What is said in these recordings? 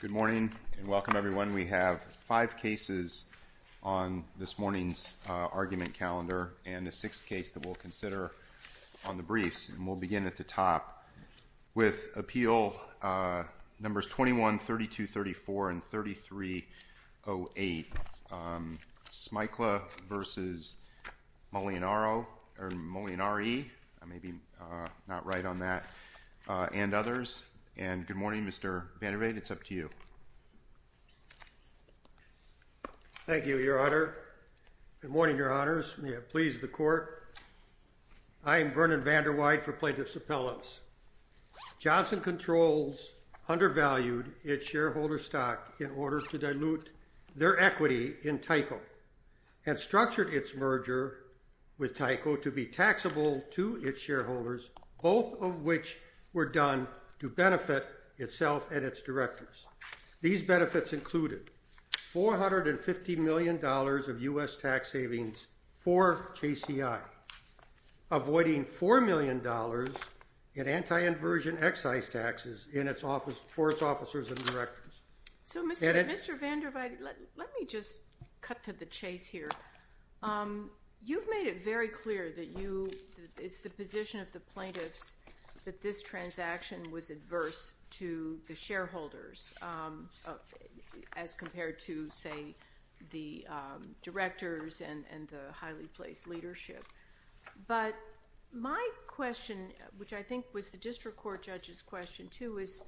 Good morning and welcome everyone. We have five cases on this morning's argument calendar and a sixth case that we'll consider on the briefs and we'll begin at the top with appeal numbers 21, 32, 34, and 3308. Smykla v. Molinaro or Molinari, I may be not right on that, and others. And good morning Mr. Vanderweide, it's up to you. Thank you, your honor. Good morning, your honors. May it please the court. I am Vernon Vanderweide for Plaintiff's Appellants. Johnson Controls undervalued its shareholder stock in order to dilute their equity in Tyco and structured its merger with Tyco to be taxable to its shareholders, both of which were done to benefit itself and its directors. These benefits included $450 million of U.S. tax savings for JCI, avoiding $4 million in anti-inversion excise taxes for its officers and Let me just cut to the chase here. You've made it very clear that you, it's the position of the plaintiffs, that this transaction was adverse to the shareholders as compared to, say, the directors and the highly placed leadership. But my question, which I think was the district court judge's question too, is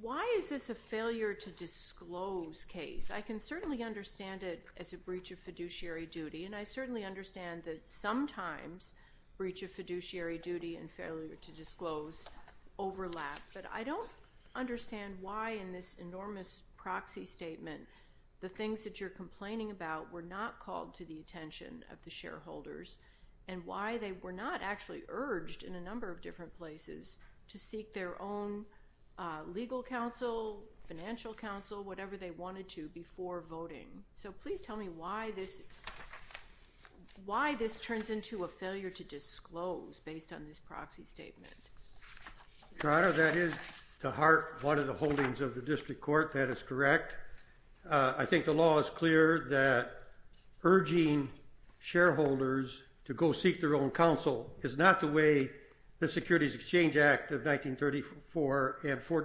why is this a failure to disclose case? I can certainly understand it as a breach of fiduciary duty and I certainly understand that sometimes breach of fiduciary duty and failure to disclose overlap, but I don't understand why in this enormous proxy statement the things that you're complaining about were not called to the attention of the shareholders and why they were not actually urged in a number of different places to seek their own legal counsel, financial counsel, whatever they wanted to before voting. So please tell me why this, why this turns into a failure to disclose based on this proxy statement. Your Honor, that is to heart one of the holdings of the district court, that is correct. I think the law is clear that urging shareholders to go seek their own counsel is not the way the Securities Exchange Act of 1934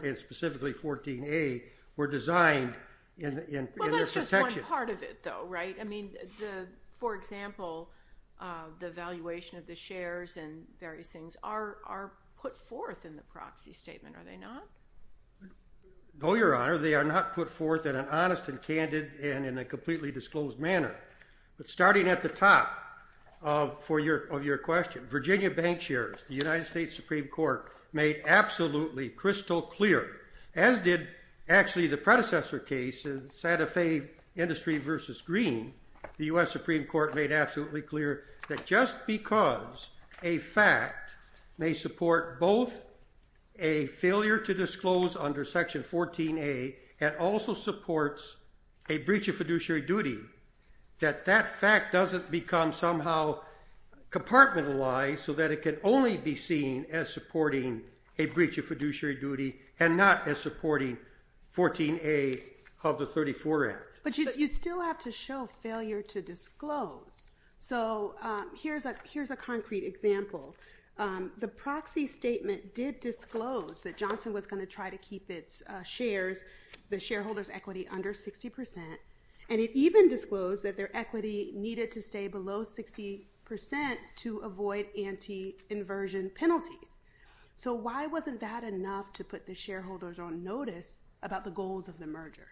and specifically 14A were designed in their protection. Well that's just one part of it though, right? I mean, for example, the valuation of the shares and various things are put forth in the proxy statement, are they not? No, Your Honor, they are not put forth in an honest and candid and in a completely disclosed manner. But starting at the top of your question, Virginia Bank shares, the United States Supreme Court made absolutely crystal clear, as did actually the predecessor case in Santa Fe Industry versus Green, the U.S. Supreme Court made absolutely clear that just because a fact may support both a failure to disclose under section 14A and also supports a breach of fiduciary duty, that that fact doesn't become somehow compartmentalized so that it can only be seen as supporting a breach of fiduciary duty and not as supporting 14A of the 34 Act. But you still have to show failure to disclose. So here's a concrete example. The proxy statement did disclose that Johnson was going to try to keep its shares, the shareholders' equity under 60 percent and it even disclosed that their equity needed to stay below 60 percent to avoid anti-inversion penalties. So why wasn't that enough to put the shareholders on notice about the goals of the merger?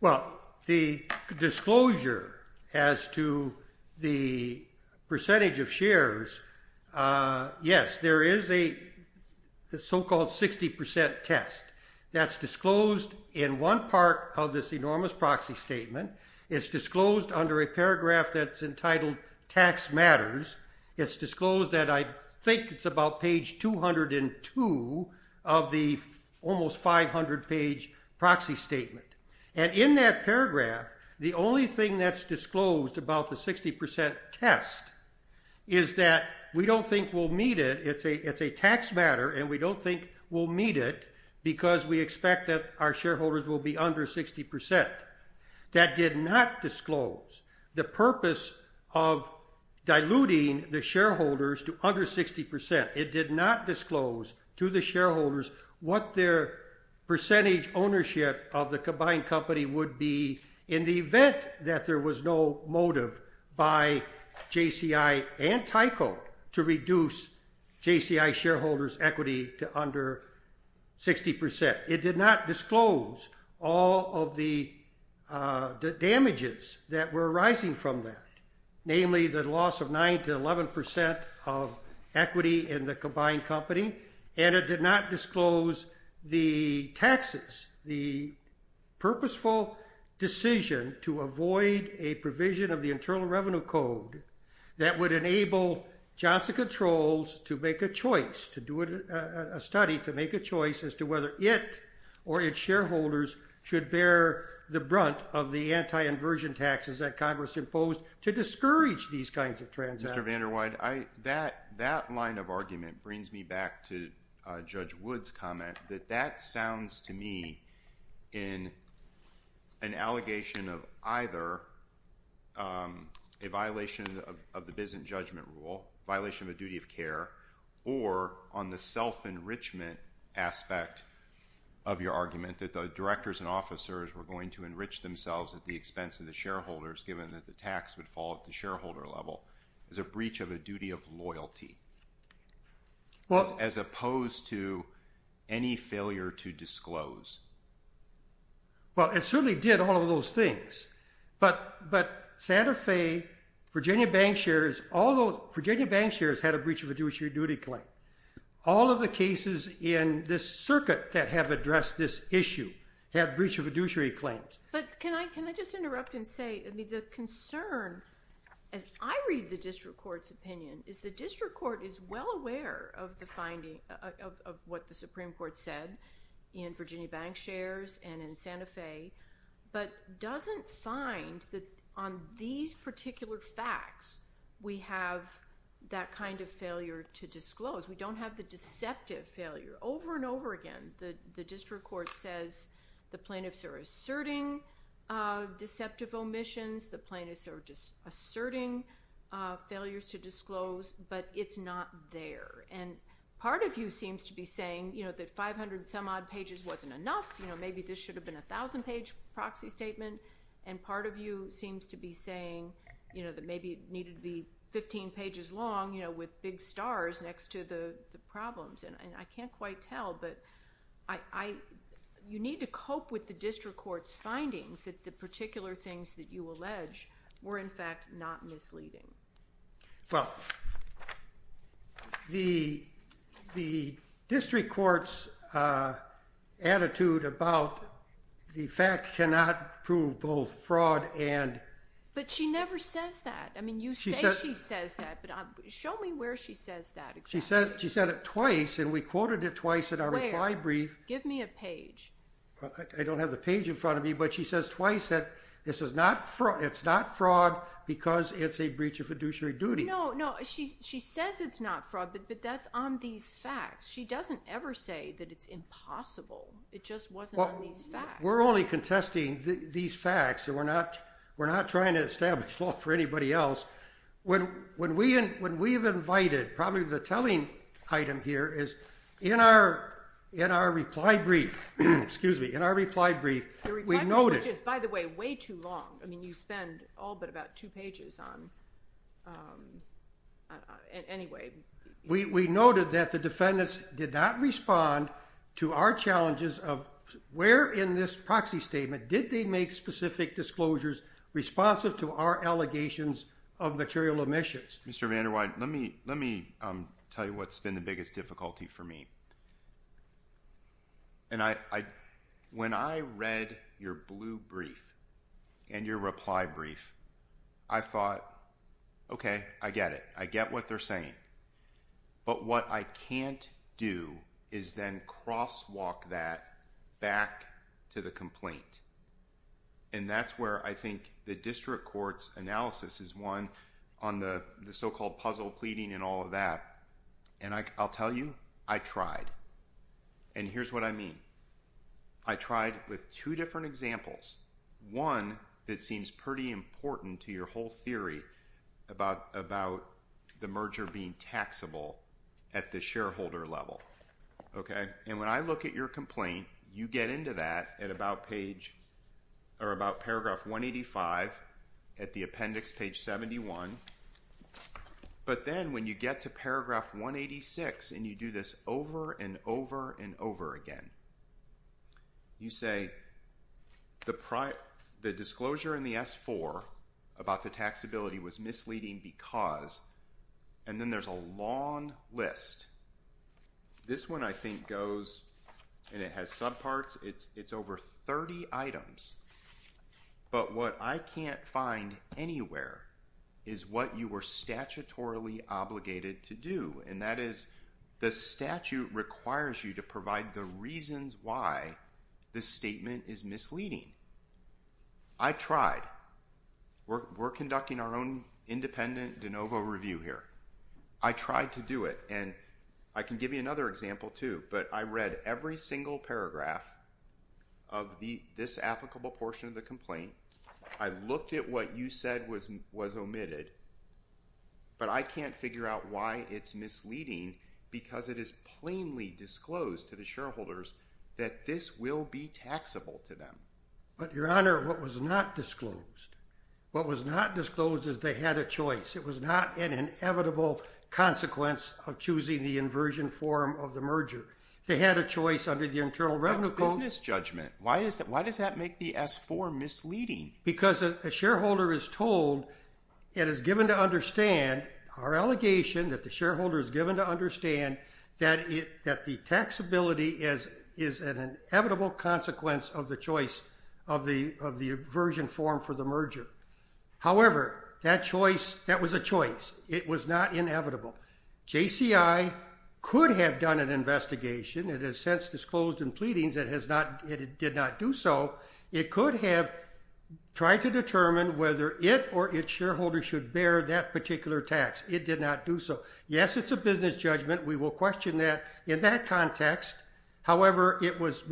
Well, the disclosure as to the percentage of shares, yes, there is a so-called 60 percent test that's disclosed in one part of this enormous proxy statement. It's disclosed under a paragraph that's entitled tax matters. It's disclosed that I think it's about page 202 of the almost 500 page proxy statement. And in that paragraph, the only thing that's disclosed about the 60 percent test is that we don't think we'll meet it. It's a it's a tax matter and we don't think we'll meet it because we expect that our shareholders will be under 60 percent. That did not disclose the purpose of diluting the shareholders to under 60 percent. It did not disclose to the shareholders what their percentage ownership of the combined company would be in the event that there was no motive by JCI and Tyco to reduce JCI shareholders' equity to under 60 percent. It did not disclose all of the damages that were arising from that, namely the loss of 9 to 11 percent of equity in the combined company, and it did not disclose the taxes, the purposeful decision to avoid a provision of the Internal Revenue Code that would enable Johnson Controls to make a choice, to do a study to make a choice as to whether it or its shareholders should bear the brunt of the anti-inversion taxes that Congress imposed to discourage these kinds of transactions. Mr. VanderWide, that line of argument brings me back to Judge Wood's comment that that sounds to me in an allegation of either a violation of the self-enrichment aspect of your argument, that the directors and officers were going to enrich themselves at the expense of the shareholders given that the tax would fall at the shareholder level as a breach of a duty of loyalty, as opposed to any failure to disclose. Well, it certainly did all of those things, but Santa Fe, Virginia bank shares, all those Virginia bank shares, breach of a duty claim. All of the cases in this circuit that have addressed this issue have breach of a duty claims. But can I can I just interrupt and say, I mean, the concern as I read the district court's opinion is the district court is well aware of the finding of what the Supreme Court said in Virginia bank shares and in Santa Fe, but doesn't find that on these disclosures. We don't have the deceptive failure. Over and over again the district court says the plaintiffs are asserting deceptive omissions, the plaintiffs are just asserting failures to disclose, but it's not there. And part of you seems to be saying, you know, that 500 some odd pages wasn't enough, you know, maybe this should have been a thousand page proxy statement, and part of you seems to be saying, you know, that maybe it needed to be 15 pages long, you know, just to the problems. And I can't quite tell, but you need to cope with the district court's findings that the particular things that you allege were in fact not misleading. Well, the district court's attitude about the fact cannot prove both fraud and... But she never says that. I mean, you say she says that, but show me where she says that exactly. She said it twice, and we quoted it twice in our reply brief. Give me a page. I don't have the page in front of me, but she says twice that this is not fraud, it's not fraud because it's a breach of fiduciary duty. No, no, she says it's not fraud, but that's on these facts. She doesn't ever say that it's impossible, it just wasn't on these facts. We're only contesting these facts, and we're not trying to establish law for fraud. When we've invited, probably the telling item here is in our reply brief, excuse me, in our reply brief, we noted... Which is, by the way, way too long. I mean, you spend all but about two pages on... Anyway, we noted that the defendants did not respond to our challenges of where in this proxy statement did they make specific disclosures responsive to our allegations of material emissions. Mr. Vanderweide, let me tell you what's been the biggest difficulty for me, and when I read your blue brief and your reply brief, I thought, okay, I get it. I get what they're saying, but what I can't do is then crosswalk that back to the and that's where I think the district court's analysis is one on the so-called puzzle pleading and all of that. And I'll tell you, I tried. And here's what I mean. I tried with two different examples. One that seems pretty important to your whole theory about the merger being taxable at the shareholder level, okay? And when I look at your complaint, you get into that at about page or about paragraph 185 at the appendix page 71, but then when you get to paragraph 186 and you do this over and over and over again, you say, the disclosure in the S-4 about the taxability was misleading because... And then there's a long list. This one I think goes, and it has subparts, it's over 30 items, but what I can't find anywhere is what you were statutorily obligated to do, and that is the statute requires you to provide the reasons why the statement is misleading. I tried. We're conducting our own independent de novo review here. I tried to do it, and I can give you another example too, but I read every single paragraph of this applicable portion of the complaint. I looked at what you said was omitted, but I can't figure out why it's misleading because it is plainly disclosed to the shareholders that this will be taxable to them. But your Honor, what was not disclosed, what was not disclosed is they had a choice. It was not an inevitable consequence of choosing the inversion form of the merger. They had a choice under the Internal Revenue Code. That's business judgment. Why is that, why does that make the S-4 misleading? Because a shareholder is told and is given to understand, our allegation that the shareholder is given to understand that the taxability is an inevitable consequence of the choice of the inversion form for the merger. However, that choice, that was a choice. It was not inevitable. JCI could have done an investigation. It has since disclosed in pleadings that it did not do so. It could have tried to determine whether it or its shareholders should bear that particular tax. It did not do so. Yes, it's a business judgment. We will question that in that context. However, it was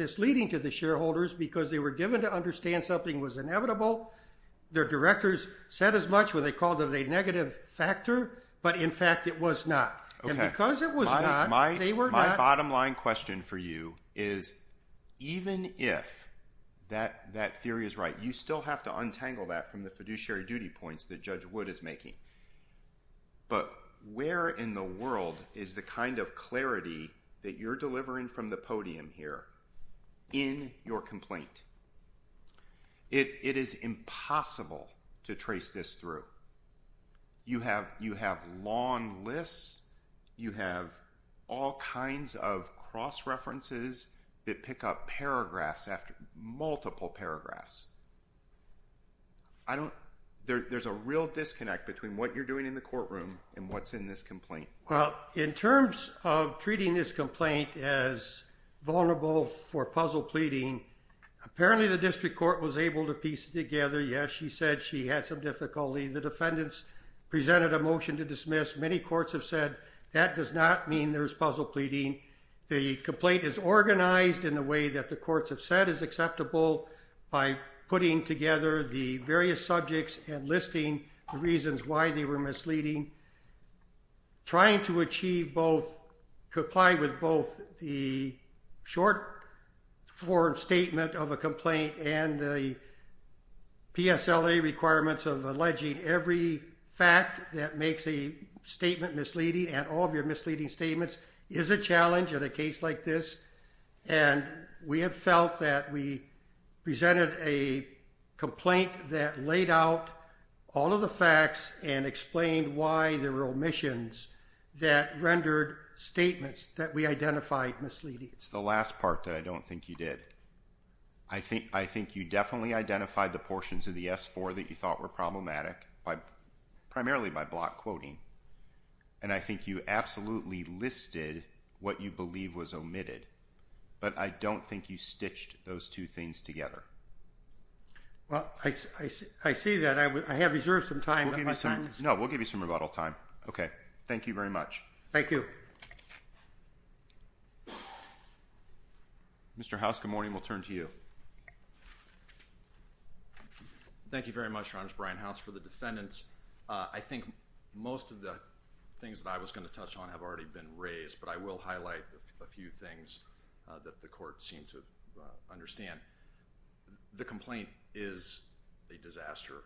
their directors said as much when they called it a negative factor, but in fact it was not. My bottom line question for you is even if that that theory is right, you still have to untangle that from the fiduciary duty points that Judge Wood is making. But where in the world is the kind of clarity that you're getting? It is impossible to trace this through. You have long lists. You have all kinds of cross-references that pick up paragraphs after multiple paragraphs. There's a real disconnect between what you're doing in the courtroom and what's in this complaint. Well, in terms of treating this court was able to piece it together. Yes, she said she had some difficulty. The defendants presented a motion to dismiss. Many courts have said that does not mean there's puzzle pleading. The complaint is organized in a way that the courts have said is acceptable by putting together the various subjects and listing the reasons why they were misleading. Trying to achieve both, comply with both the short-form statement of a complaint and the PSLA requirements of alleging every fact that makes a statement misleading and all of your misleading statements is a challenge in a case like this. And we have felt that we presented a complaint that laid out all of the facts and explained why there were omissions that rendered statements that we identified misleading. It's the last part that I don't think you did. I think you definitely identified the portions of the S-4 that you thought were problematic, primarily by block quoting. And I think you absolutely listed what you believe was omitted. But I don't think you stitched those two things together. Well, I see that. I have reserved some time. No, we'll give you some rebuttal time. Okay. Thank you very much. Thank you. Mr. House, good morning. We'll turn to you. Thank you very much, Your Honor. I'm Brian House for the defendants. I think most of the things that I was going to touch on have already been raised, but I will highlight a few things that the court seemed to understand. The complaint is a disaster.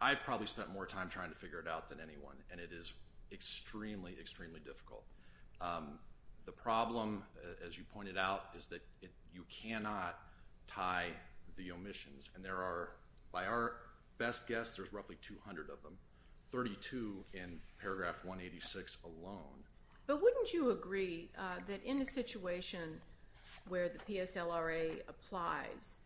I've probably spent more time trying to figure it out than anyone, and it is extremely, extremely difficult. The problem, as you pointed out, is that you cannot tie the omissions. And by our best guess, there's roughly 200 of them, 32 in paragraph 186 alone. But wouldn't you agree that in a situation where the PSLRA applies,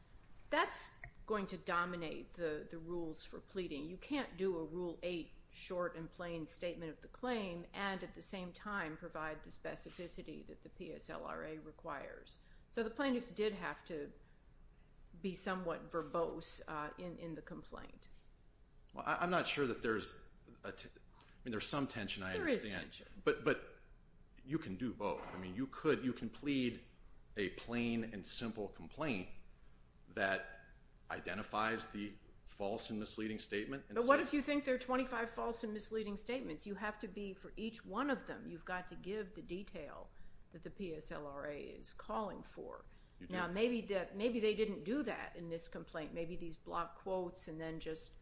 that's going to dominate the rules for pleading? You can't do a Rule 8 short and plain statement of the claim and at the same time provide the specificity that the PSLRA requires. So the plaintiffs did have to be somewhat verbose in the complaint. Well, I'm not sure that there's, I mean, there's some tension, I understand. There is tension. But you can do both. I mean, you could, you can plead a plain and simple complaint that identifies the false and misleading statement. But what if you think there are 25 false and misleading statements? You have to be, for each one of them, you've got to give the detail that the PSLRA is calling for. Now, maybe they didn't do that in this complaint. Maybe these block quotes and then just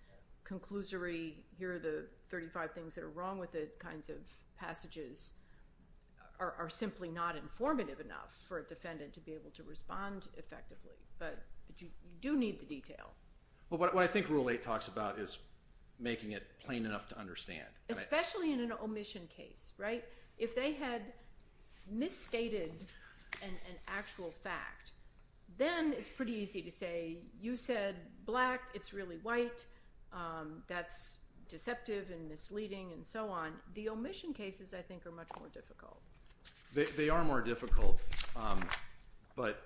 conclusory, here are the 35 things that are wrong with it, kinds of passages are simply not informative enough for a defendant to be able to respond effectively. But you do need the detail. Well, what I think Rule 8 talks about is making it plain enough to understand. Especially in an omission case, right? If they had misstated an actual fact, then it's pretty easy to say, you said black, it's really white, that's deceptive and misleading and so on. The omission cases, I think, are much more difficult. They are more difficult. But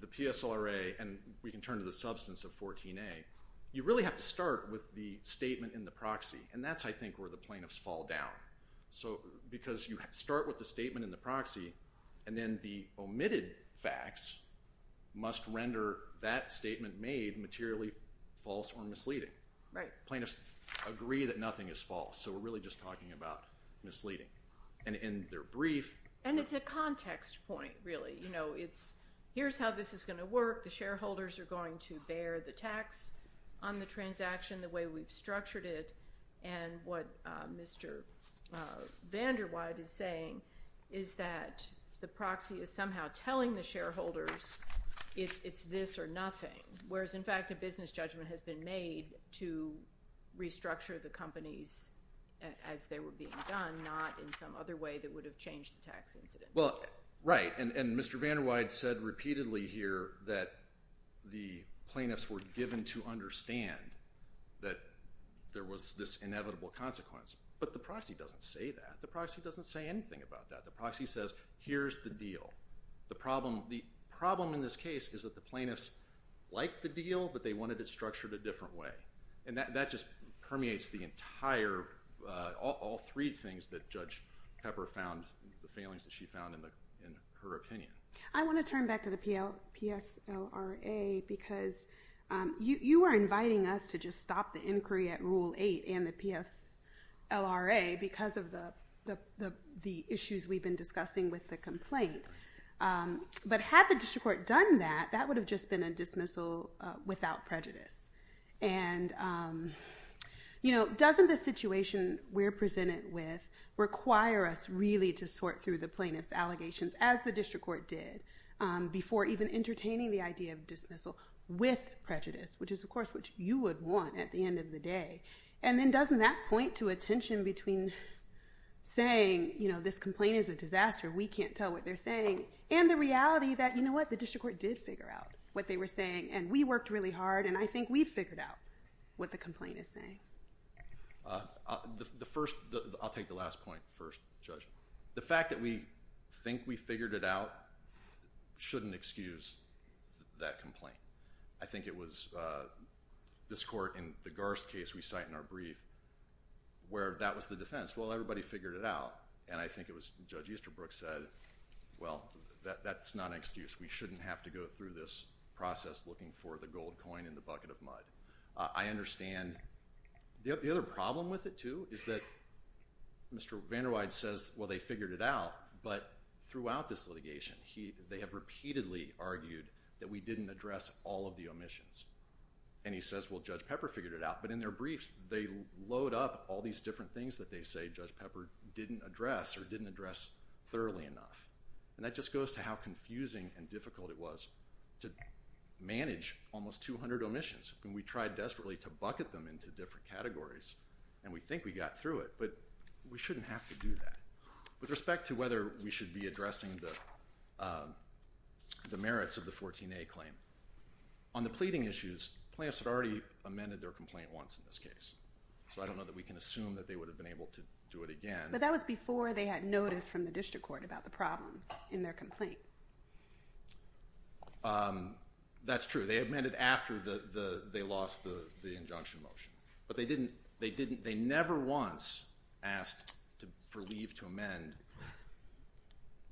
the PSLRA, and we can turn to the substance of 14A, you really have to start with the statement in the proxy. And that's, I think, where the plaintiffs fall down. Because you start with the statement in the proxy, and then the omitted facts must render that statement made materially false or misleading. Plaintiffs agree that nothing is false, so we're really just talking about misleading. And in their brief... What Mr. Vanderwyde is saying is that the proxy is somehow telling the shareholders it's this or nothing. Whereas, in fact, a business judgment has been made to restructure the companies as they were being done, not in some other way that would have changed the tax incident. Well, right. And Mr. Vanderwyde said repeatedly here that the plaintiffs were given to understand that there was this inevitable consequence. But the proxy doesn't say that. The proxy doesn't say anything about that. The proxy says, here's the deal. The problem in this case is that the plaintiffs liked the deal, but they wanted it structured a different way. And that just permeates the entire, all three things that Judge Pepper found, the failings that she found in her opinion. I want to turn back to the PSLRA because you are inviting us to just stop the inquiry at Rule 8 and the PSLRA because of the issues we've been discussing with the complaint. But had the district court done that, that would have just been a dismissal without prejudice. And doesn't the situation we're presented with require us really to sort through the plaintiff's allegations, as the district court did, before even entertaining the idea of dismissal with prejudice, which is, of course, what you would want at the end of the day. And then doesn't that point to a tension between saying, you know, this complaint is a disaster, we can't tell what they're saying, and the reality that, you know what, the district court did figure out what they were saying, and we worked really hard, and I think we figured out what the complaint is saying. I'll take the last point first, Judge. The fact that we think we figured it out shouldn't excuse that complaint. I think it was this court, in the Garst case we cite in our brief, where that was the defense. Well, everybody figured it out, and I think it was Judge Easterbrook said, well, that's not an excuse. We shouldn't have to go through this process looking for the gold coin in the bucket of mud. I understand. The other problem with it, too, is that Mr. Vanderweide says, well, they figured it out, but throughout this litigation, they have repeatedly argued that we didn't address all of the omissions. And he says, well, Judge Pepper figured it out, but in their briefs, they load up all these different things that they say Judge Pepper didn't address or didn't address thoroughly enough. And that just goes to how confusing and difficult it was to manage almost 200 omissions. And we tried desperately to bucket them into different categories, and we think we got through it, but we shouldn't have to do that. With respect to whether we should be addressing the merits of the 14A claim, on the pleading issues, plaintiffs had already amended their complaint once in this case. So I don't know that we can assume that they would have been able to do it again. But that was before they had notice from the district court about the problems in their complaint. That's true. They amended after they lost the injunction motion. But they never once asked for leave to amend,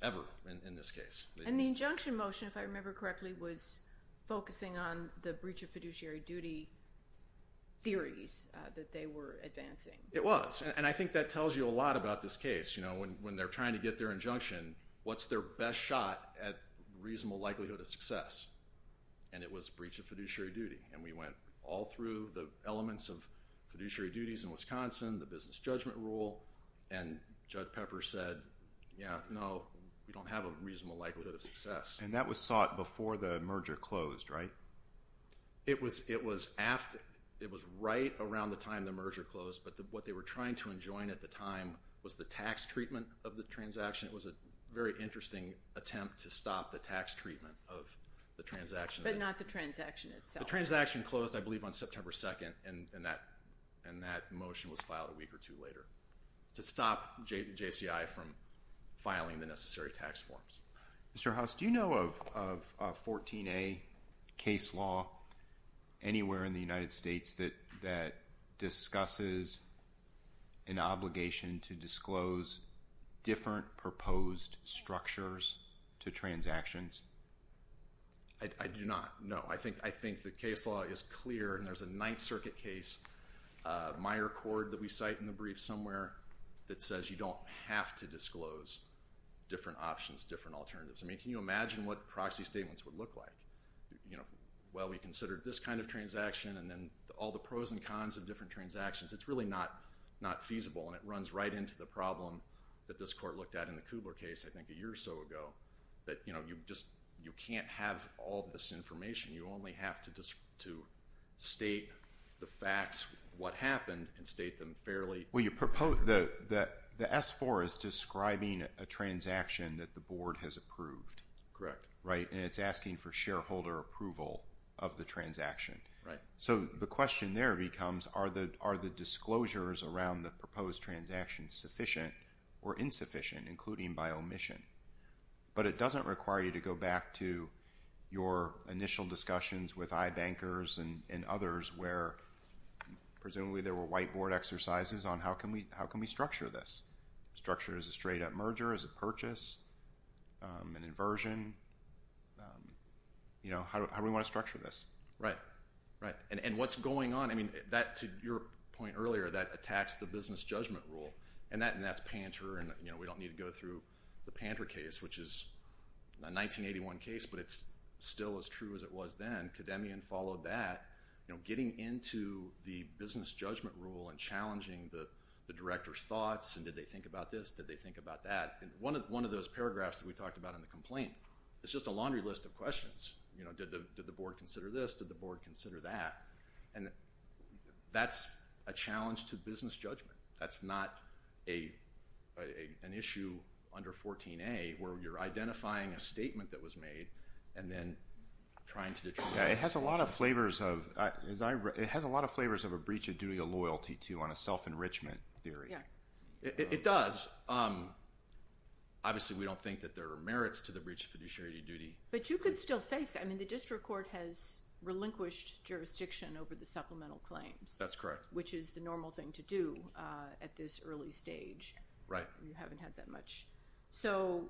ever, in this case. And the injunction motion, if I remember correctly, was focusing on the breach of fiduciary duty theories that they were advancing. It was. And I think that tells you a lot about this case. When they're trying to get their injunction, what's their best shot at reasonable likelihood of success? And it was breach of fiduciary duty. And we went all through the elements of fiduciary duties in Wisconsin, the business judgment rule, and Judge Pepper said, yeah, no, we don't have a reasonable likelihood of success. And that was sought before the merger closed, right? It was right around the time the merger closed. But what they were trying to enjoin at the time was the tax treatment of the transaction. It was a very interesting attempt to stop the tax treatment of the transaction. But not the transaction itself. The transaction closed, I believe, on September 2nd, and that motion was filed a week or two later to stop JCI from filing the necessary tax forms. Mr. Hauss, do you know of a 14A case law anywhere in the United States that discusses an obligation to disclose different proposed structures to transactions? I do not. No. I think the case law is clear, and there's a Ninth Circuit case, Meyer Cord, that we cite in the brief somewhere, that says you don't have to disclose different options, different alternatives. I mean, can you imagine what proxy statements would look like? Well, we considered this kind of transaction, and then all the pros and cons of different transactions. It's really not feasible, and it runs right into the problem that this court looked at in the Kubler case, I think, a year or so ago, that you can't have all this information. You only have to state the facts, what happened, and state them fairly. Well, the S-4 is describing a transaction that the board has approved. Correct. Right, and it's asking for shareholder approval of the transaction. So the question there becomes, are the disclosures around the proposed transaction sufficient or insufficient, including by omission? But it doesn't require you to go back to your initial discussions with iBankers and others, where presumably there were whiteboard exercises on how can we structure this? Structure it as a straight-up merger, as a purchase, an inversion? How do we want to structure this? Right, right, and what's going on? To your point earlier, that attacks the business judgment rule, and that's Panter, and we don't need to go through the Panter case, which is a 1981 case, but it's still as true as it was then. Kademian followed that. Getting into the business judgment rule and challenging the director's thoughts, and did they think about this, did they think about that? One of those paragraphs that we talked about in the complaint is just a laundry list of questions. Did the board consider this? Did the board consider that? And that's a challenge to business judgment. That's not an issue under 14A, where you're identifying a statement that was made and then trying to detract. Yeah, it has a lot of flavors of a breach of duty of loyalty, too, on a self-enrichment theory. Yeah, it does. Obviously, we don't think that there are merits to the breach of fiduciary duty. But you could still face that. I mean, the district court has relinquished jurisdiction over the supplemental claims. That's correct. Which is the normal thing to do at this early stage. Right. You haven't had that much. So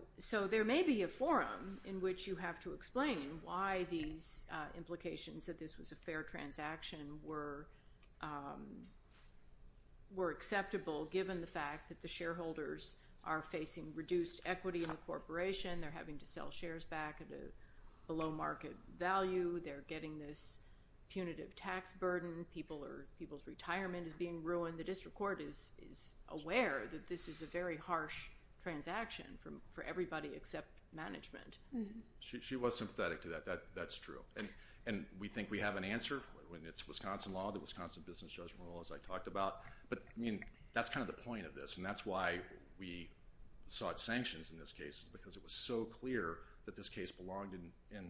there may be a forum in which you have to explain why these implications that this was a fair transaction were acceptable, given the fact that the shareholders are facing reduced equity in the corporation. They're having to sell shares back at a low market value. They're getting this punitive tax burden. People's retirement is being ruined. The district court is aware that this is a very harsh transaction for everybody except management. She was sympathetic to that. That's true. And we think we have an answer. It's Wisconsin law, the Wisconsin Business Judgment Rule, as I talked about. But, I mean, that's kind of the point of this, and that's why we sought sanctions in this case, because it was so clear that this case belonged in ______.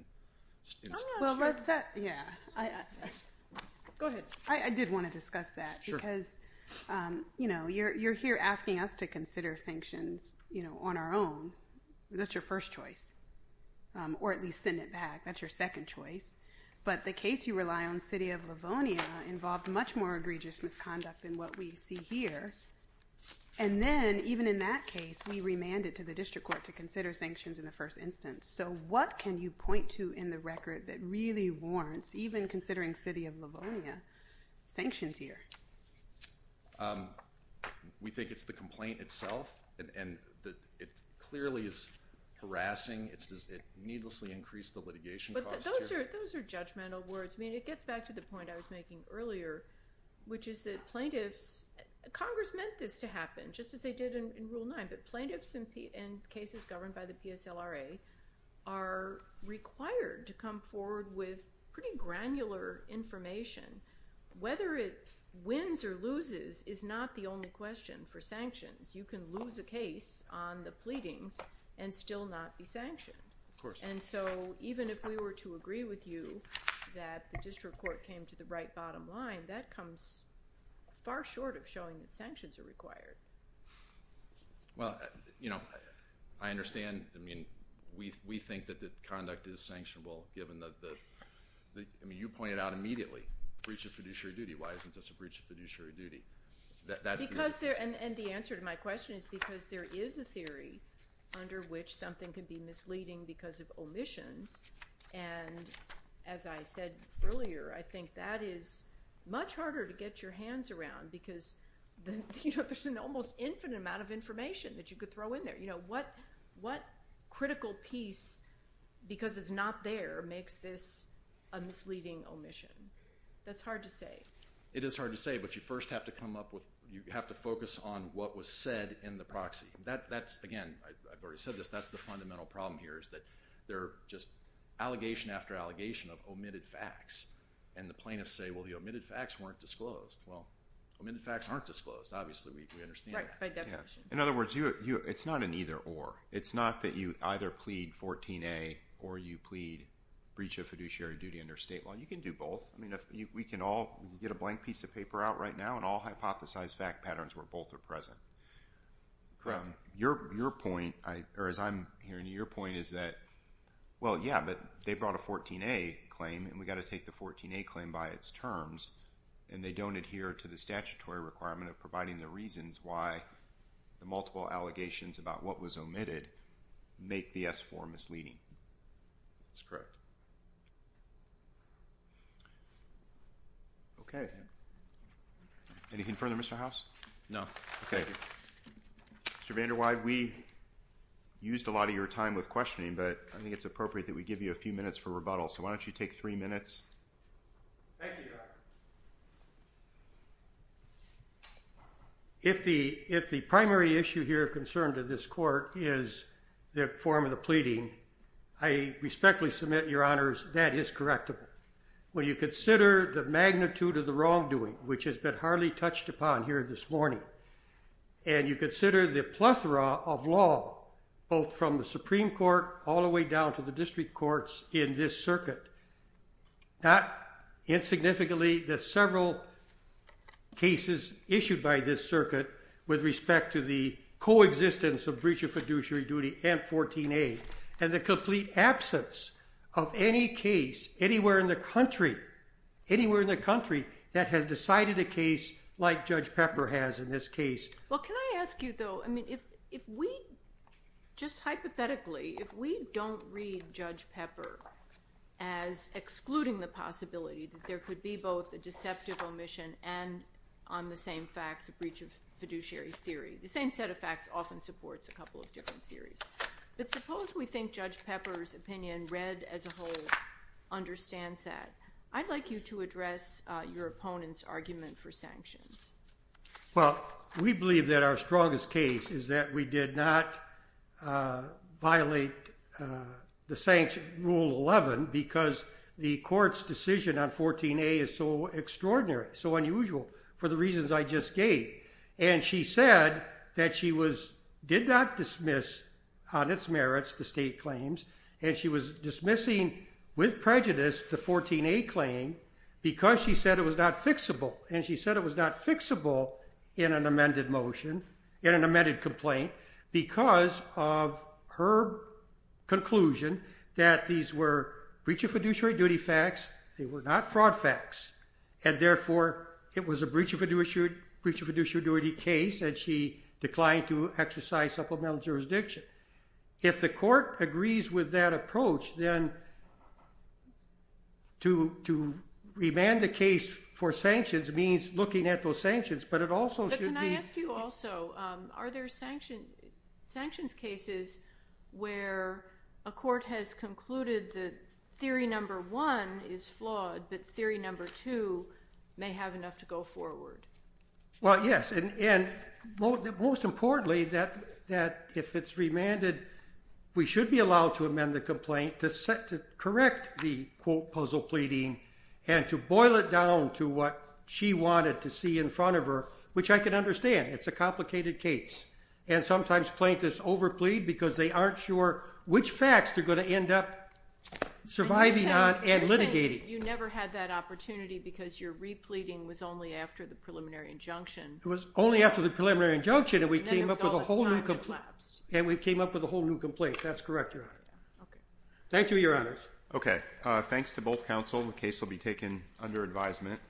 Well, let's talk. Yeah. Go ahead. I did want to discuss that. Sure. Because, you know, you're here asking us to consider sanctions, you know, on our own. That's your first choice, or at least send it back. That's your second choice. But the case you rely on, City of Livonia, involved much more egregious misconduct than what we see here. And then, even in that case, we remanded to the district court to consider sanctions in the first instance. So what can you point to in the record that really warrants, even considering City of Livonia, sanctions here? We think it's the complaint itself, and it clearly is harassing. It needlessly increased the litigation cost here. But those are judgmental words. I mean, it gets back to the point I was making earlier, which is that plaintiffs ______. Congress meant this to happen, just as they did in Rule 9. But plaintiffs in cases governed by the PSLRA are required to come forward with pretty granular information. Whether it wins or loses is not the only question for sanctions. You can lose a case on the pleadings and still not be sanctioned. Of course not. And so, even if we were to agree with you that the district court came to the right bottom line, that comes far short of showing that sanctions are required. Well, you know, I understand. I mean, we think that the conduct is sanctionable, given the ______. I mean, you pointed out immediately, breach of fiduciary duty. Why isn't this a breach of fiduciary duty? Because there ______. And the answer to my question is because there is a theory under which something could be misleading because of omissions. And as I said earlier, I think that is much harder to get your hands around because, you know, there's an almost infinite amount of information that you could throw in there. You know, what critical piece, because it's not there, makes this a misleading omission? That's hard to say. It is hard to say, but you first have to come up with – you have to focus on what was said in the proxy. That's – again, I've already said this. That's the fundamental problem here is that there are just allegation after allegation of omitted facts. And the plaintiffs say, well, the omitted facts weren't disclosed. Well, omitted facts aren't disclosed. Obviously, we understand that. In other words, it's not an either-or. It's not that you either plead 14A or you plead breach of fiduciary duty under state law. You can do both. I mean, we can all get a blank piece of paper out right now and all hypothesize fact patterns where both are present. Your point, or as I'm hearing you, your point is that, well, yeah, but they brought a 14A claim, and we've got to take the 14A claim by its terms, and they don't adhere to the statutory requirement of providing the reasons why the multiple allegations about what was omitted make the S-4 misleading. That's correct. Okay. Anything further, Mr. House? No. Okay. Mr. VanderWeide, we used a lot of your time with questioning, but I think it's appropriate that we give you a few minutes for rebuttal, so why don't you take three minutes? Thank you, Your Honor. If the primary issue here of concern to this court is the form of the pleading, I respectfully submit, Your Honors, that is correctable. When you consider the magnitude of the wrongdoing, which has been hardly touched upon here this morning, and you consider the plethora of law, both from the Supreme Court all the way down to the district courts in this circuit, not insignificantly the several cases issued by this circuit with respect to the coexistence of breach of fiduciary duty and 14A and the complete absence of any case anywhere in the country that has decided a case like Judge Pepper has in this case. Well, can I ask you, though, I mean, if we just hypothetically, if we don't read Judge Pepper as excluding the possibility that there could be both a deceptive omission and on the same facts a breach of fiduciary theory, the same set of facts often supports a couple of different theories. But suppose we think Judge Pepper's opinion read as a whole understands that. I'd like you to address your opponent's argument for sanctions. Well, we believe that our strongest case is that we did not violate the rule 11 because the court's decision on 14A is so extraordinary, so unusual for the reasons I just gave. And she said that she did not dismiss on its merits the state claims, and she was dismissing with prejudice the 14A claim because she said it was not fixable. And she said it was not fixable in an amended motion, in an amended complaint, because of her conclusion that these were breach of fiduciary duty facts, they were not fraud facts, and therefore it was a breach of fiduciary case, and she declined to exercise supplemental jurisdiction. If the court agrees with that approach, then to remand the case for sanctions means looking at those sanctions, but it also should be- But can I ask you also, are there sanctions cases where a court has concluded that theory number one is flawed, but theory number two may have enough to go forward? Well, yes. And most importantly, that if it's remanded, we should be allowed to amend the complaint to correct the, quote, puzzle pleading and to boil it down to what she wanted to see in front of her, which I can understand. It's a complicated case. And sometimes plaintiffs overplead because they aren't sure which facts they're going to end up surviving on and litigating. You never had that opportunity because your repleting was only after the preliminary injunction. It was only after the preliminary injunction, and we came up with a whole new complaint. That's correct, Your Honor. Okay. Thank you, Your Honors. Okay. Thanks to both counsel. The case will be taken under advisement.